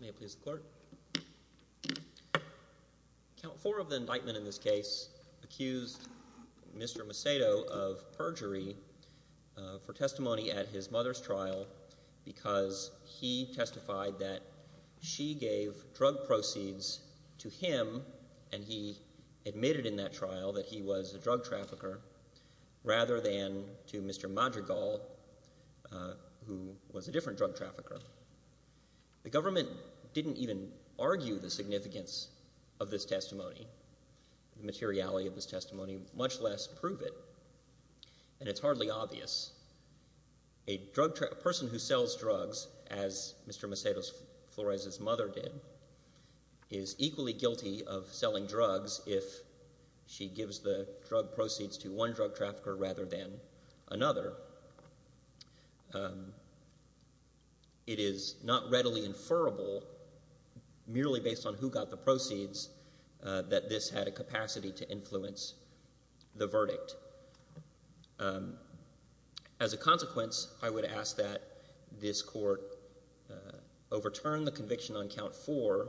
May it please the clerk. Count four of the indictment in this case accused Mr. Macedo of perjury for testimony at his mother's trial because he testified that she gave drug proceeds to him and he admitted in that trial that he was a drug trafficker rather than to Mr. Madrigal who was a different drug trafficker. The government didn't even argue the significance of this testimony, the materiality of this testimony, much less prove it and it's hardly obvious. A person who sells drugs as Mr. Macedo-Flores' mother did is equally guilty of selling drugs if she gives the drug proceeds to one drug trafficker rather than another. It is not readily inferable, merely based on who got the proceeds, that this had a capacity to influence the verdict. As a consequence, I would ask that this court overturn the conviction on count four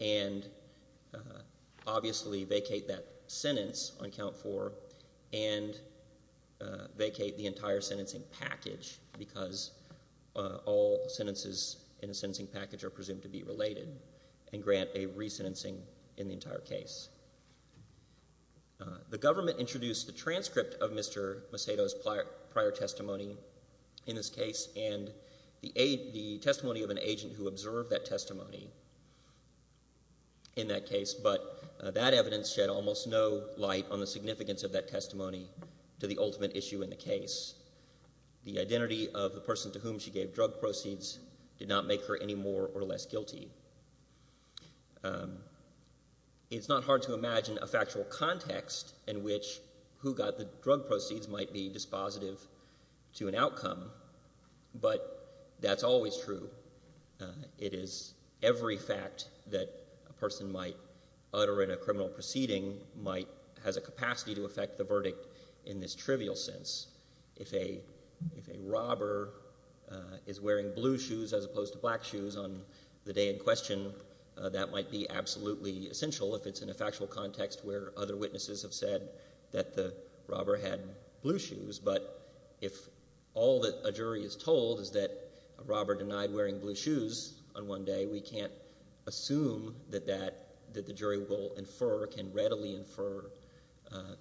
and obviously vacate that sentence on count four and vacate the entire sentencing package because all sentences in a sentencing package are presumed to be related and grant a re-sentencing in the entire case. The government introduced the transcript of Mr. Macedo's prior testimony in this case and the testimony of an agent who observed that testimony in that case, but that evidence shed almost no light on the significance of that testimony to the ultimate issue in the case. The identity of the person to whom she gave drug proceeds did not make her any more or less guilty. It's not hard to imagine a factual context in which who got the drug proceeds might be dispositive to an outcome, but that's always true. It is every fact that a person might utter in a criminal proceeding has a capacity to affect the verdict in this trivial sense. If a robber is wearing blue shoes as opposed to black shoes on the day in question, that might be absolutely essential if it's in a factual context where other witnesses have said that the robber had blue shoes, but if all that a jury is told is that a robber denied wearing blue shoes on one day, we can't assume that the jury will infer, can readily infer,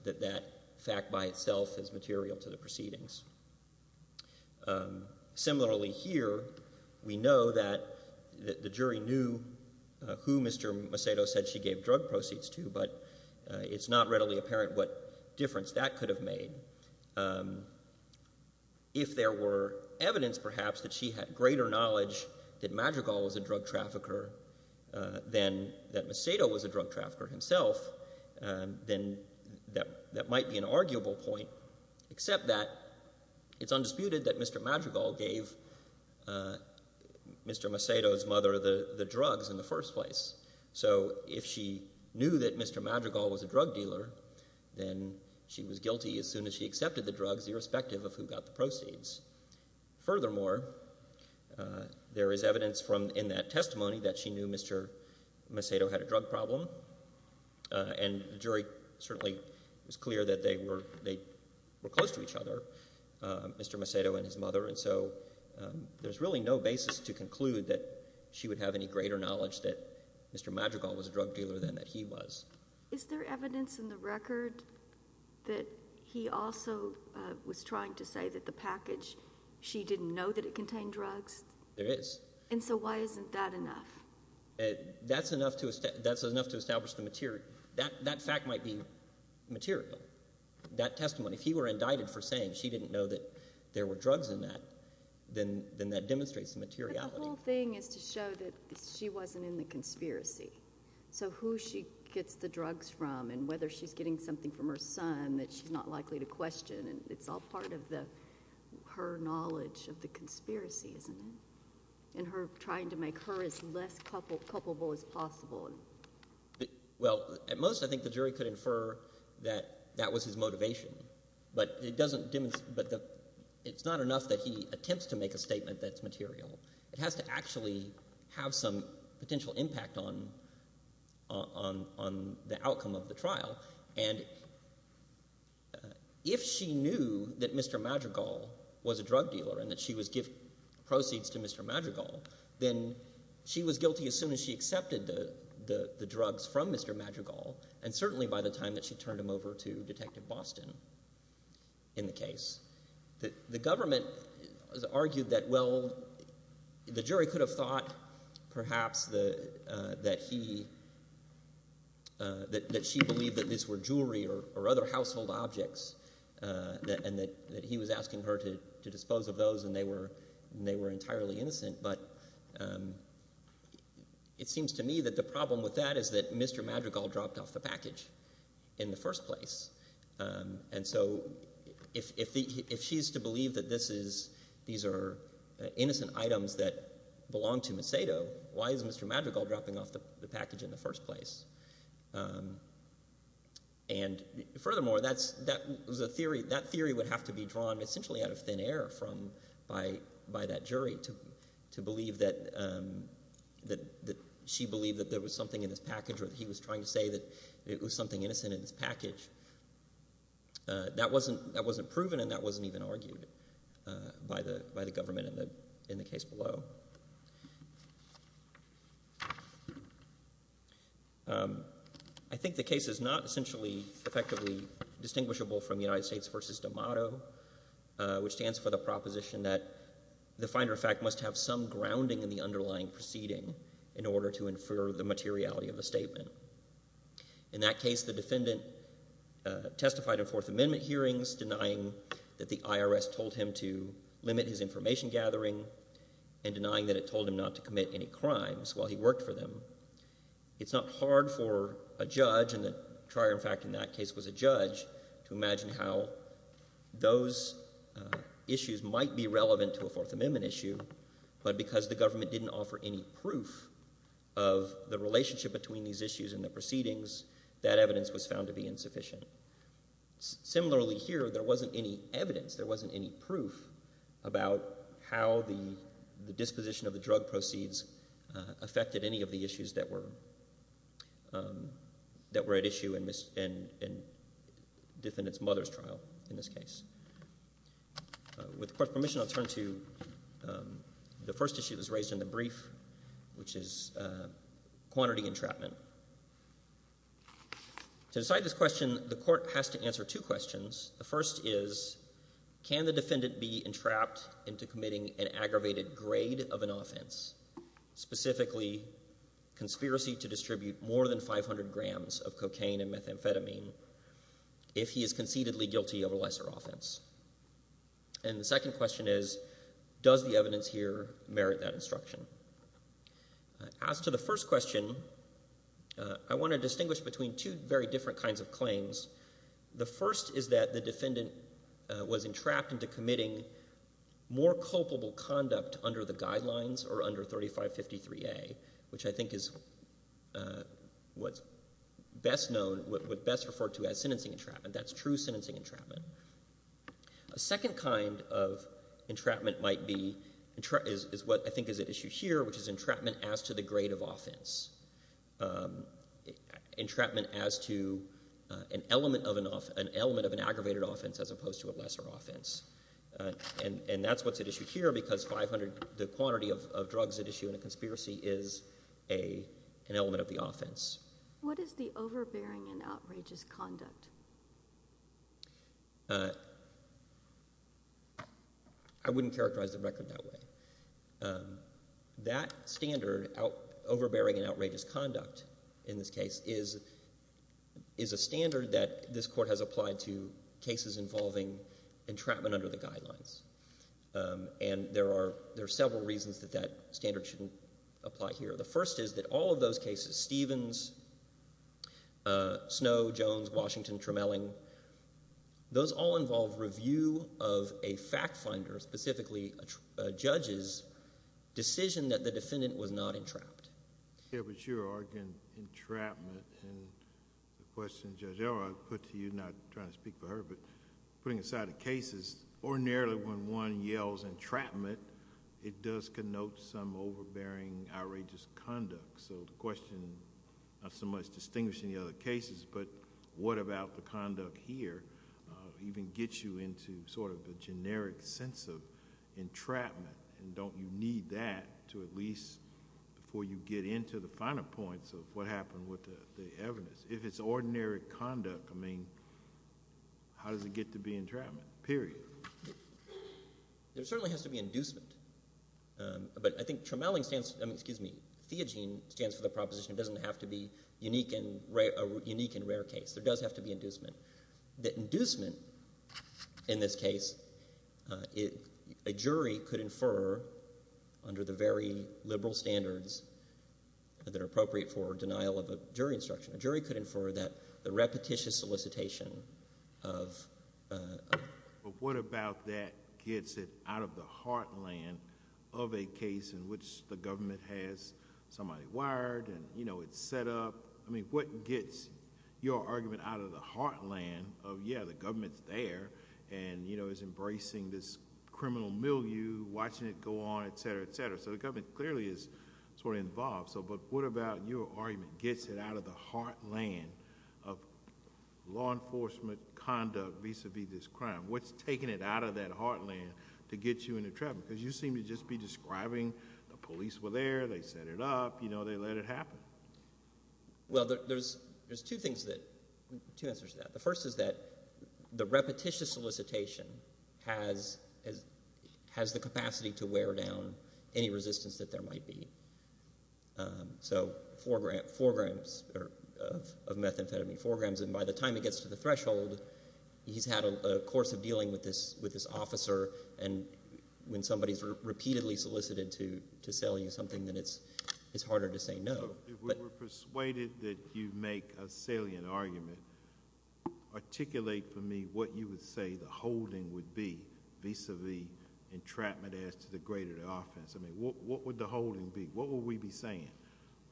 that that fact by itself is material to the proceedings. Similarly here, we know that the jury knew who Mr. Macedo said she gave drug proceeds to, but it's not readily apparent what difference that could have made. If there were evidence perhaps that she had greater knowledge that Magical was a drug trafficker than that Macedo was a drug trafficker himself, then that might be an arguable point, except that it's undisputed that Mr. Magical gave Mr. Macedo's mother the drugs in the first place. So if she knew that Mr. Magical was a drug dealer, then she was guilty as soon as she accepted the drugs, irrespective of who got the proceeds. Furthermore, there is evidence from in that testimony that she knew Mr. Macedo had a drug problem, and the jury certainly was clear that they were close to each other, Mr. Macedo and his mother, and so there's really no basis to conclude that she would have any greater knowledge that Mr. Magical was a drug dealer than that he was. Is there evidence in the record that he also was trying to say that the package, she didn't know that it contained drugs? There is. And so why isn't that enough? That's enough to establish the material. That fact might be material. That testimony, if he were indicted for saying she didn't know that there were drugs in that, then that demonstrates the materiality. But the whole thing is to show that she wasn't in the conspiracy. So who she gets the drugs from, and whether she's getting something from her son that she's not likely to question, and it's all part of her knowledge of the conspiracy, isn't it? Trying to make her as less culpable as possible. Well, at most, I think the jury could infer that that was his motivation, but it doesn't, it's not enough that he attempts to make a statement that's material. It has to actually have some potential impact on the outcome of the trial. And if she knew that Mr. Magical was a drug dealer, and that she was giving to Mr. Magical, then she was guilty as soon as she accepted the drugs from Mr. Magical, and certainly by the time that she turned him over to Detective Boston in the case. The government argued that, well, the jury could have thought, perhaps, that he, that she believed that these were jewelry or other household objects, and that he was asking her to dispose of those, and they were entirely innocent. But it seems to me that the problem with that is that Mr. Magical dropped off the package in the first place. And so if she's to believe that this is, these are innocent items that belong to Macedo, why is Mr. Magical dropping off the package in the first place? And furthermore, that's, that was a theory, that theory would have to be drawn essentially out of thin air from, by, by that jury to believe that, that she believed that there was something in this package, or that he was trying to say that it was something innocent in this package. That wasn't, that wasn't proven, and that wasn't even argued by the, by the government in the, in the case below. I think the case is not essentially effectively distinguishable from United States v. D'Amato, which stands for the proposition that the finder of fact must have some grounding in the underlying proceeding in order to infer the materiality of the statement. In that case, the defendant testified in Fourth Amendment hearings denying that the IRS told him to limit his information gathering and denying that it told him not to commit any crimes while he worked for them. It's not hard for a judge, and the trier in fact in that case was a judge, to imagine how those issues might be relevant to a Fourth Amendment issue, but because the government didn't offer any proof of the relationship between these issues and the proceedings, that evidence was found to be insufficient. Similarly here, there wasn't any evidence, there wasn't any proof about how the disposition of the drug proceeds affected any of the issues that were at issue in defendant's mother's trial in this case. With court's permission, I'll turn to the first issue that was raised in the brief, which is quantity entrapment. To decide this question, the court has to answer two questions. The first is, can the defendant be entrapped into committing an aggravated grade of an offense, specifically conspiracy to distribute more than 500 grams of cocaine and methamphetamine if he is concededly guilty of a lesser offense? And the second question is, does the evidence here merit that instruction? As to the first question, I want to distinguish between two very different kinds of claims. The first is that the defendant was entrapped into committing more culpable conduct under the guidelines or under 3553A, which I think is what's best known, what's best referred to as sentencing entrapment. That's true sentencing entrapment. A second kind of entrapment might be, is what I think is at issue here, which is entrapment as to the grade of an element of an aggravated offense as opposed to a lesser offense. And that's what's at issue here because 500, the quantity of drugs at issue in a conspiracy is an element of the offense. What is the overbearing and outrageous conduct? I wouldn't characterize the record that way. That standard, overbearing and outrageous conduct, in this case, is a standard that this Court has applied to cases involving entrapment under the guidelines. And there are several reasons that that standard shouldn't apply here. The first is that all of those cases, Stevens, Snow, Jones, Washington, Tremelling, those all involve review of a fact finder, specifically a judge's decision that the defendant was not entrapped. Yeah, but you're arguing entrapment. And the question, Judge Owell, I put to you, not trying to speak for her, but putting aside the cases, ordinarily when one yells entrapment, it does connote some overbearing, outrageous conduct. So the question, not so much distinguishing the other cases, but what about the conduct here even gets you into sort of a final point of what happened with the evidence? If it's ordinary conduct, I mean, how does it get to be entrapment, period? There certainly has to be inducement. But I think Tremelling stands, I mean, excuse me, Theogene stands for the proposition it doesn't have to be a unique and rare case. There does have to be inducement. The inducement, in this case, a jury could infer under the very liberal standards that are appropriate for denial of a jury instruction, a jury could infer that the repetitious solicitation of... But what about that gets it out of the heartland of a case in which the government has somebody wired and, you know, it's set up? I mean, what gets your argument out of the heartland of, yeah, the government's there, and, you know, is embracing this criminal milieu, watching it go on, et cetera, et cetera. So the government clearly is sort of involved. So but what about your argument gets it out of the heartland of law enforcement conduct vis-a-vis this crime? What's taking it out of that heartland to get you into trouble? Because you seem to just be describing the police were there, they set it up, you know, they let it happen. Well, there's two things that... Two answers to that. The first is that the repetitious solicitation has the capacity to wear down any resistance that there might be. So four grams of methamphetamine, four grams, and by the time it gets to the threshold, he's had a course of dealing with this officer, and when somebody's repeatedly solicited to sell you something, then it's harder to say no. If we were persuaded that you make a salient argument, articulate for me what you would say the holding would be vis-a-vis entrapment as to the greater offense. I mean, what would the holding be? What would we be saying?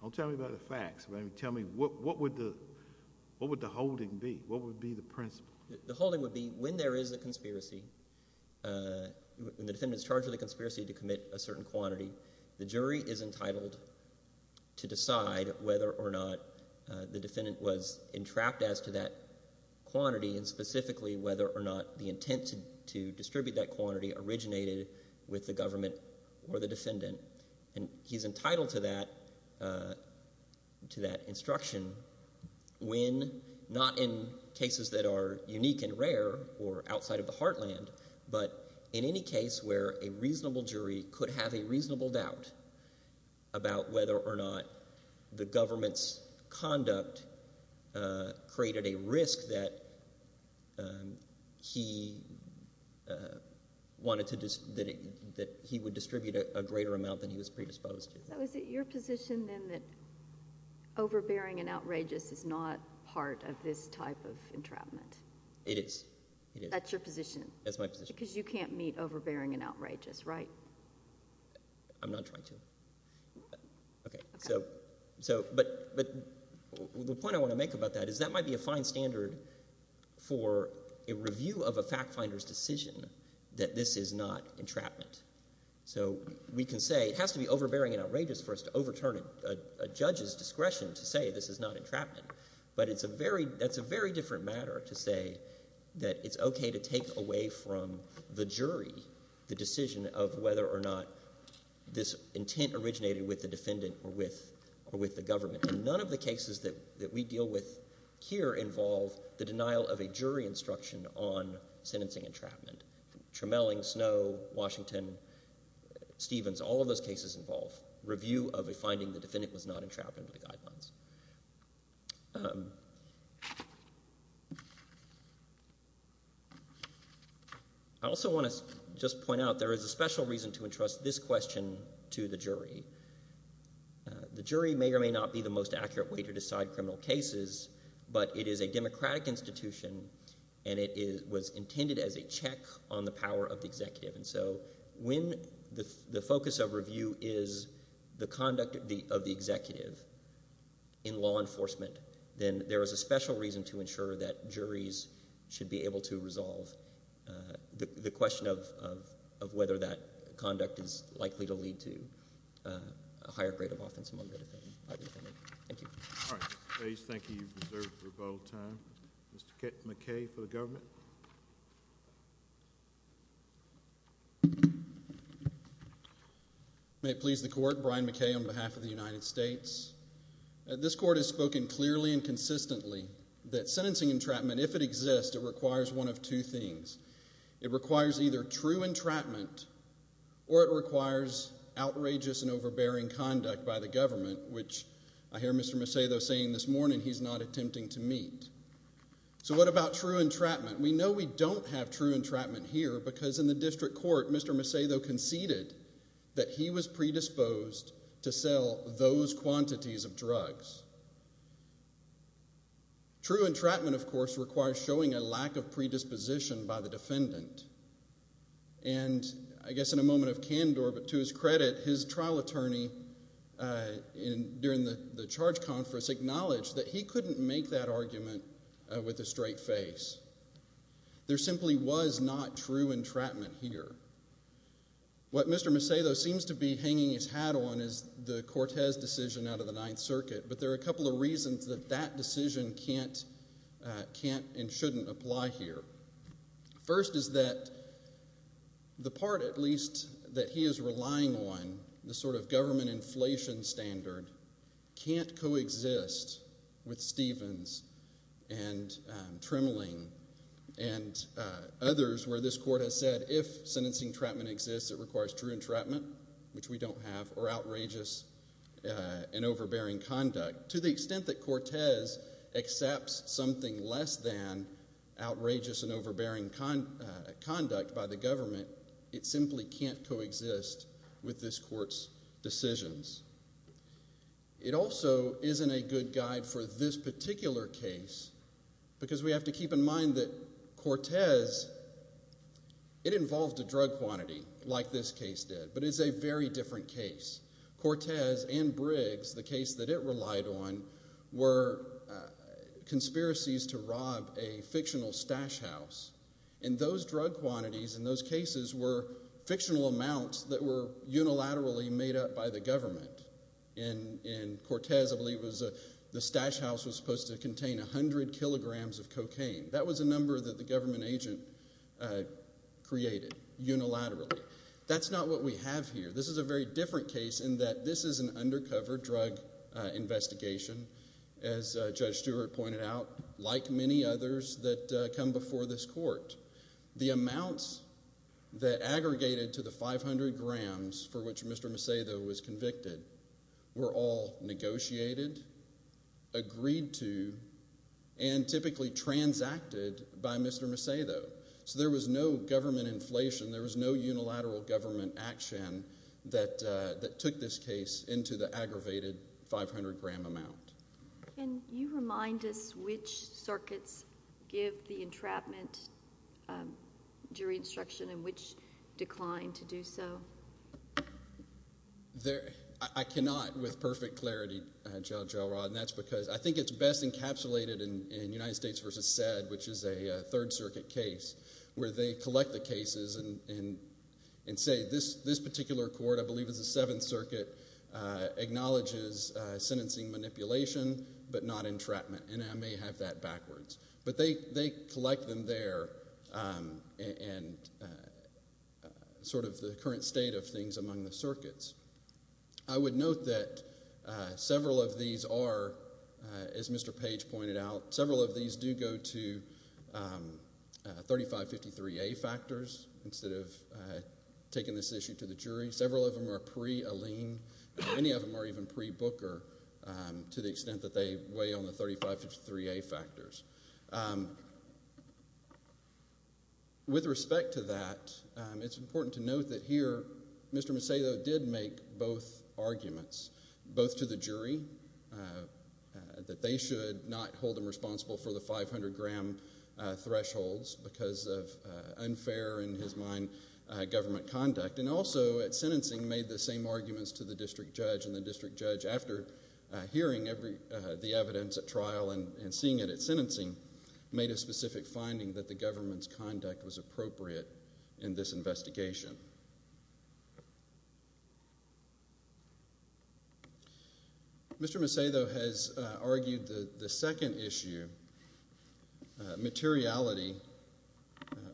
Don't tell me about the facts. I mean, tell me what would the holding be? What would be the principle? The holding would be when there is a conspiracy, when the defendant is charged with a conspiracy to commit a certain quantity, the jury is entitled to decide whether or not the defendant was entrapped as to that quantity, and specifically whether or not the intent to distribute that quantity originated with the government or the defendant. And he's entitled to that instruction when, not in cases that are unique and rare or outside of the heartland, but in any case where a reasonable jury could have a reasonable doubt about whether or not the government's conduct created a risk that he would distribute a greater amount than he was predisposed to. Is it your position, then, that overbearing and outrageous is not part of this type of entrapment? It is. That's your position? That's my position. Because you can't meet overbearing and outrageous, right? I'm not trying to. But the point I want to make about that is that might be a fine standard for a review of a fact finder's decision that this is not entrapment. So we can say it has to be overbearing and outrageous for us to overturn a judge's discretion to say this is not entrapment. But that's a very different matter to say that it's okay to take away from the jury the decision of whether or not this intent originated with the defendant or with the government. And none of the cases that we deal with here involve the denial of a jury instruction on review of a finding the defendant was not entrapped under the guidelines. I also want to just point out there is a special reason to entrust this question to the jury. The jury may or may not be the most accurate way to decide criminal cases, but it is a democratic institution, and it was intended as a check on the power of the executive. And so when the focus of review is the conduct of the executive in law enforcement, then there is a special reason to ensure that juries should be able to resolve the question of whether that conduct is likely to lead to a higher grade of offense among the defendant. Thank you. All right. Mr. Bates, thank you. You've reserved your vote of time. Mr. McKay for the government. May it please the court, Brian McKay on behalf of the United States. This court has spoken clearly and consistently that sentencing entrapment, if it exists, it requires one of two things. It requires either true entrapment or it requires outrageous and overbearing conduct by the government, which I hear Mr. Macedo saying this morning he's not attempting to meet. So what about true entrapment? We know we don't have true entrapment here because in the district court, Mr. Macedo conceded that he was predisposed to sell those quantities of drugs. True entrapment, of course, requires showing a lack of predisposition by the defendant. And I guess in a moment of candor, but to his credit, his trial attorney during the charge conference acknowledged that he couldn't make that argument with a straight face. There simply was not true entrapment here. What Mr. Macedo seems to be hanging his hat on is the Cortez decision out of the Ninth Circuit, but there are a couple of reasons that that decision can't and shouldn't apply here. First is that the part, at least, that he is relying on, the sort of government inflation standard, can't coexist with Stevens and Tremling and others where this court has said if sentencing entrapment exists, it requires true entrapment, which we don't have, or outrageous and overbearing conduct. To the extent that Cortez accepts something less than outrageous and overbearing conduct by the government, it simply can't coexist with this court's decisions. It also isn't a good guide for this particular case because we have to keep in mind that Cortez, it involved a drug quantity like this case did, but it's a very different case. Cortez and Briggs, the case that it relied on, were conspiracies to rob a fictional stash house and those drug quantities in those cases were fictional amounts that were unilaterally made up by the government. In Cortez, I believe, the stash house was supposed to contain 100 kilograms of cocaine. That was a number that the government agent created, unilaterally. That's not what we have here. This is a very different case in that this is an undercover drug investigation, as Judge Stewart pointed out, like many others that come before this court. The amounts that aggregated to the 500 grams for which Mr. Macedo was convicted were all negotiated, agreed to, and typically transacted by Mr. Macedo. There was no government inflation. There was no unilateral government action that took this case into the jury instruction in which declined to do so. I cannot, with perfect clarity, Judge Elrod, and that's because I think it's best encapsulated in United States v. Sedd, which is a Third Circuit case, where they collect the cases and say this particular court, I believe it's the Seventh Circuit, acknowledges sentencing manipulation but not entrapment. I may have that backwards. They collect them there and sort of the current state of things among the circuits. I would note that several of these are, as Mr. Page pointed out, several of these do go to 3553A factors instead of taking this issue to jury. Several of them are pre-Aleen. Many of them are even pre-Booker to the extent that they weigh on the 3553A factors. With respect to that, it's important to note that here Mr. Macedo did make both arguments, both to the jury, that they should not hold him responsible for the 500 gram thresholds because of unfair, in his mind, government conduct, and also at sentencing made the same arguments to the district judge. The district judge, after hearing the evidence at trial and seeing it at sentencing, made a specific finding that the government's conduct was appropriate in this investigation. Mr. Macedo has argued that the second issue materiality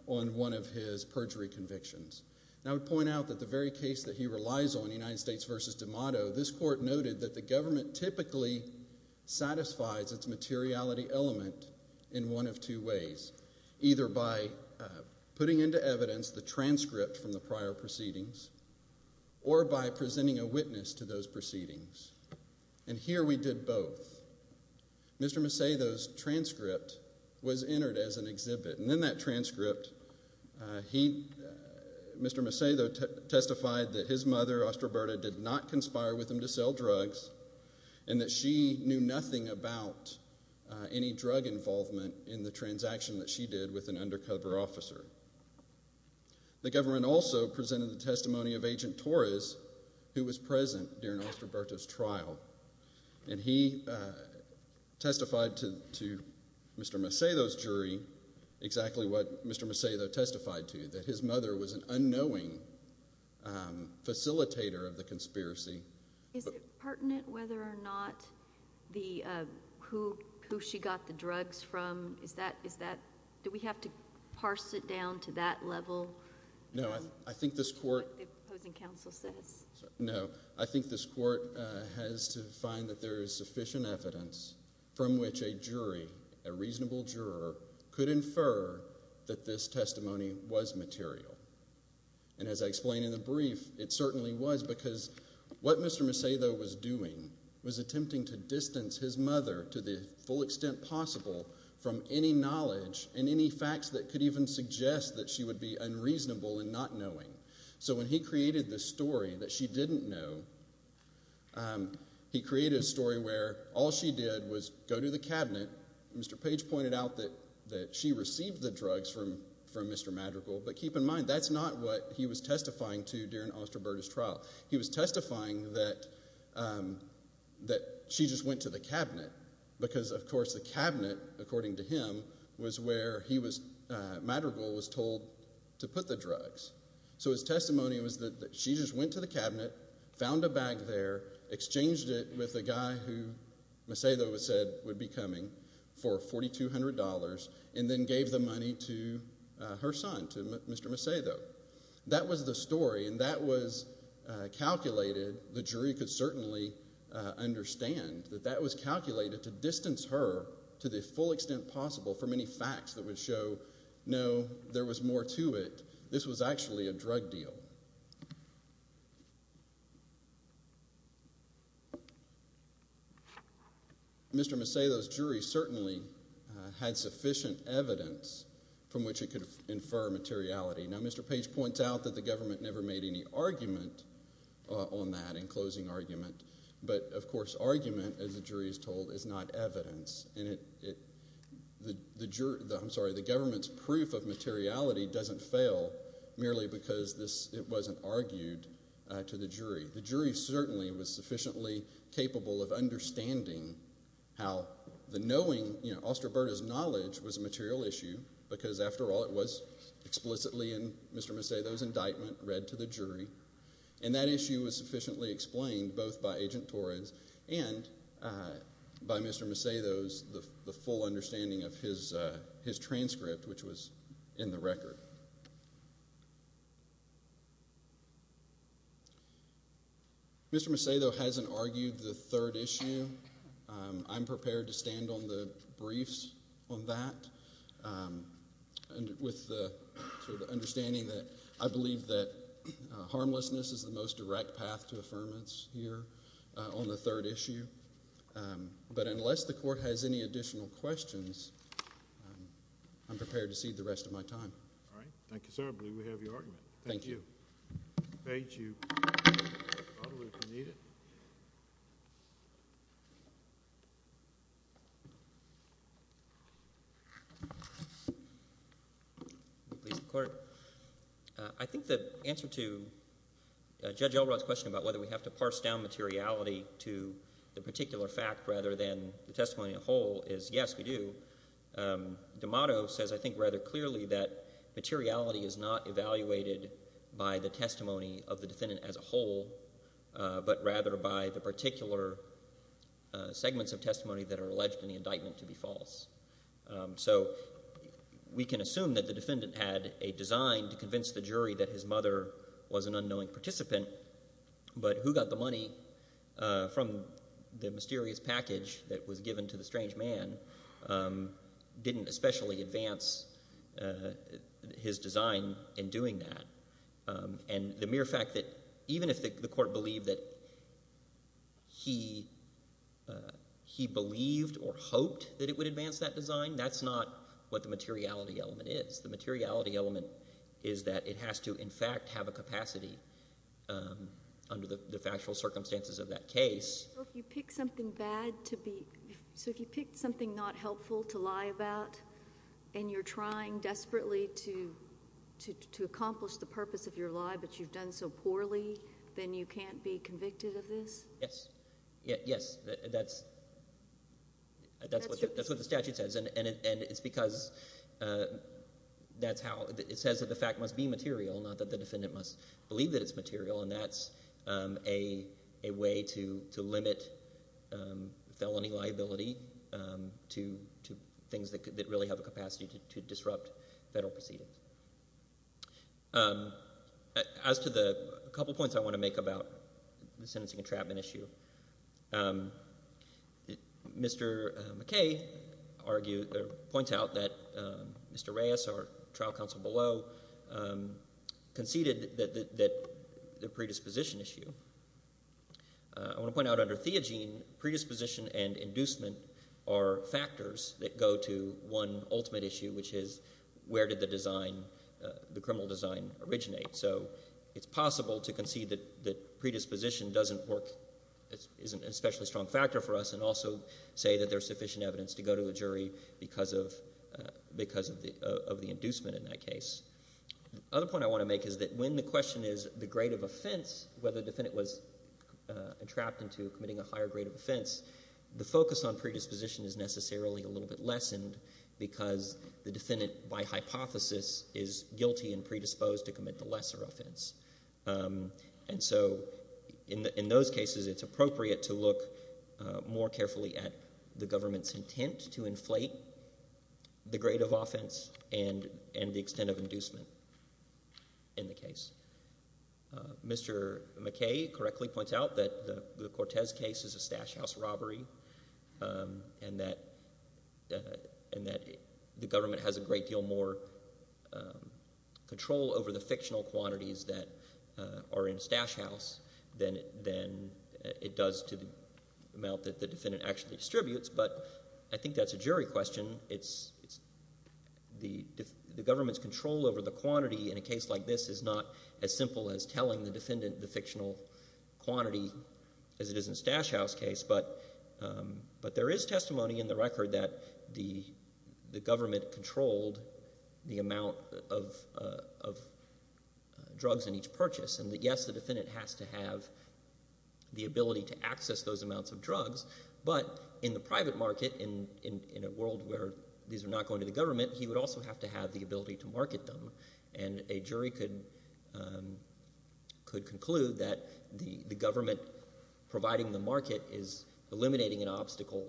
on one of his perjury convictions. I would point out that the very case that he relies on, United States v. D'Amato, this court noted that the government typically satisfies its materiality element in one of two ways, either by putting into evidence the transcript from the prior proceedings or by presenting a witness to those proceedings. And here we did both. Mr. Macedo's transcript was entered as an exhibit, and in that transcript, Mr. Macedo testified that his mother, Ostroberta, did not conspire with him to sell drugs and that she knew nothing about any drug involvement in the transaction that she did with an undercover officer. The government also presented the testimony of Agent Torres, who was present during Ostroberta's trial, and he testified to Mr. Macedo's jury exactly what Mr. Macedo testified to, that his mother was an unknowing facilitator of the conspiracy. Is it pertinent whether or not who she got the drugs from? Is that, do we have to parse it down to that level? No, I think this court has to find that there is sufficient evidence from which a jury, a reasonable juror, could infer that this testimony was material. And as I explained in the brief, it certainly was because what Mr. Macedo was doing was attempting to distance his mother to the full extent possible from any knowledge and any facts that could even suggest that she would be unreasonable in not knowing. So when he created this story that she didn't know, he created a story where all she did was go to the cabinet, Mr. Page pointed out that she received the drugs from Mr. Madrigal, but keep in mind, that's not what he was testifying to during Ostroberta's trial. He was testifying that she just went to the cabinet because, of course, the cabinet, according to him, was where he was, Madrigal, was told to put the drugs. So his testimony was that she just went to the cabinet, found a bag there, exchanged it with the guy who Macedo said would be coming for $4,200, and then gave the money to her son, to Mr. Macedo. That was the story, and that was certainly understand, that that was calculated to distance her to the full extent possible from any facts that would show, no, there was more to it. This was actually a drug deal. Mr. Macedo's jury certainly had sufficient evidence from which it could infer materiality. Mr. Page points out that the government never made any argument on that, in closing argument, but, of course, argument, as the jury is told, is not evidence. The government's proof of materiality doesn't fail merely because it wasn't argued to the jury. The jury certainly was sufficiently capable of understanding how the knowing, Ostroberta's Mr. Macedo's indictment read to the jury, and that issue was sufficiently explained both by Agent Torres and by Mr. Macedo's, the full understanding of his transcript, which was in the record. Mr. Macedo hasn't argued the third issue. I'm prepared to stand on the briefs on that, and with the sort of understanding that I believe that harmlessness is the most direct path to affirmance here on the third issue, but unless the court has any additional questions, I'm prepared to cede the rest of my time. All right. Thank you, sir. I believe we have your question. I think the answer to Judge Elrod's question about whether we have to parse down materiality to the particular fact rather than the testimony as a whole is, yes, we do. D'Amato says, I think, rather clearly that materiality is not evaluated by the testimony of the defendant as a whole, but rather by the particular segments of testimony that are alleged in the indictment to be false. So we can assume that the defendant had a design to convince the jury that his mother was an unknowing participant, but who got the money from the mysterious package that was given to the strange man didn't especially advance his design in doing that. And the mere fact that even if the court believed or hoped that it would advance that design, that's not what the materiality element is. The materiality element is that it has to, in fact, have a capacity under the factual circumstances of that case. So if you picked something not helpful to lie about and you're trying desperately to lie but you've done so poorly, then you can't be convicted of this? Yes. Yes, that's what the statute says. And it's because that's how it says that the fact must be material, not that the defendant must believe that it's material. And that's a way to limit felony liability to things that really have a capacity to disrupt federal proceedings. As to the couple points I want to make about the sentencing entrapment issue, Mr. McKay points out that Mr. Reyes, our trial counsel below, conceded that the predisposition issue. I want to point out under Theogene, predisposition and inducement are factors that go to one ultimate issue, which is where did the design, the criminal design, originate? So it's possible to concede that predisposition isn't an especially strong factor for us and also say that there's sufficient evidence to go to a jury because of the inducement in that case. The other point I want to make is that when the question is the grade of offense, whether the defendant was entrapped into committing a higher grade of offense, the focus on predisposition is necessarily a little bit lessened because the defendant, by hypothesis, is guilty and predisposed to commit the lesser offense. And so in those cases, it's appropriate to look more carefully at the government's intent to inflate the grade of offense and the extent of inducement in the case. Mr. McKay correctly points out that the Cortez case is a Stash House robbery and that the government has a great deal more control over the fictional quantities that are in Stash House than it does to the amount that the defendant actually distributes. But I think that's a jury question. The government's control over the quantity in a case like this is not as simple as telling the defendant the fictional quantity as it is in Stash House case. But there is testimony in the record that the government controlled the amount of drugs in each purchase. And yes, the defendant has to have the ability to access those amounts of drugs. But in the private market, in a world where these are not going to the government, he would also have to have the ability to market them. And a jury could conclude that the government providing the market is eliminating an obstacle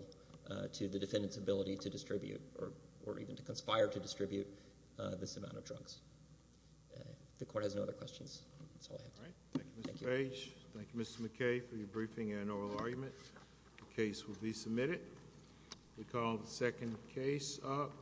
to the defendant's ability to distribute, or even to conspire to distribute, this amount of drugs. The court has no other questions. That's all I have. Thank you, Mr. Page. Thank you, Mr. McKay, for your briefing and oral argument. The case will be submitted. We call the second case up.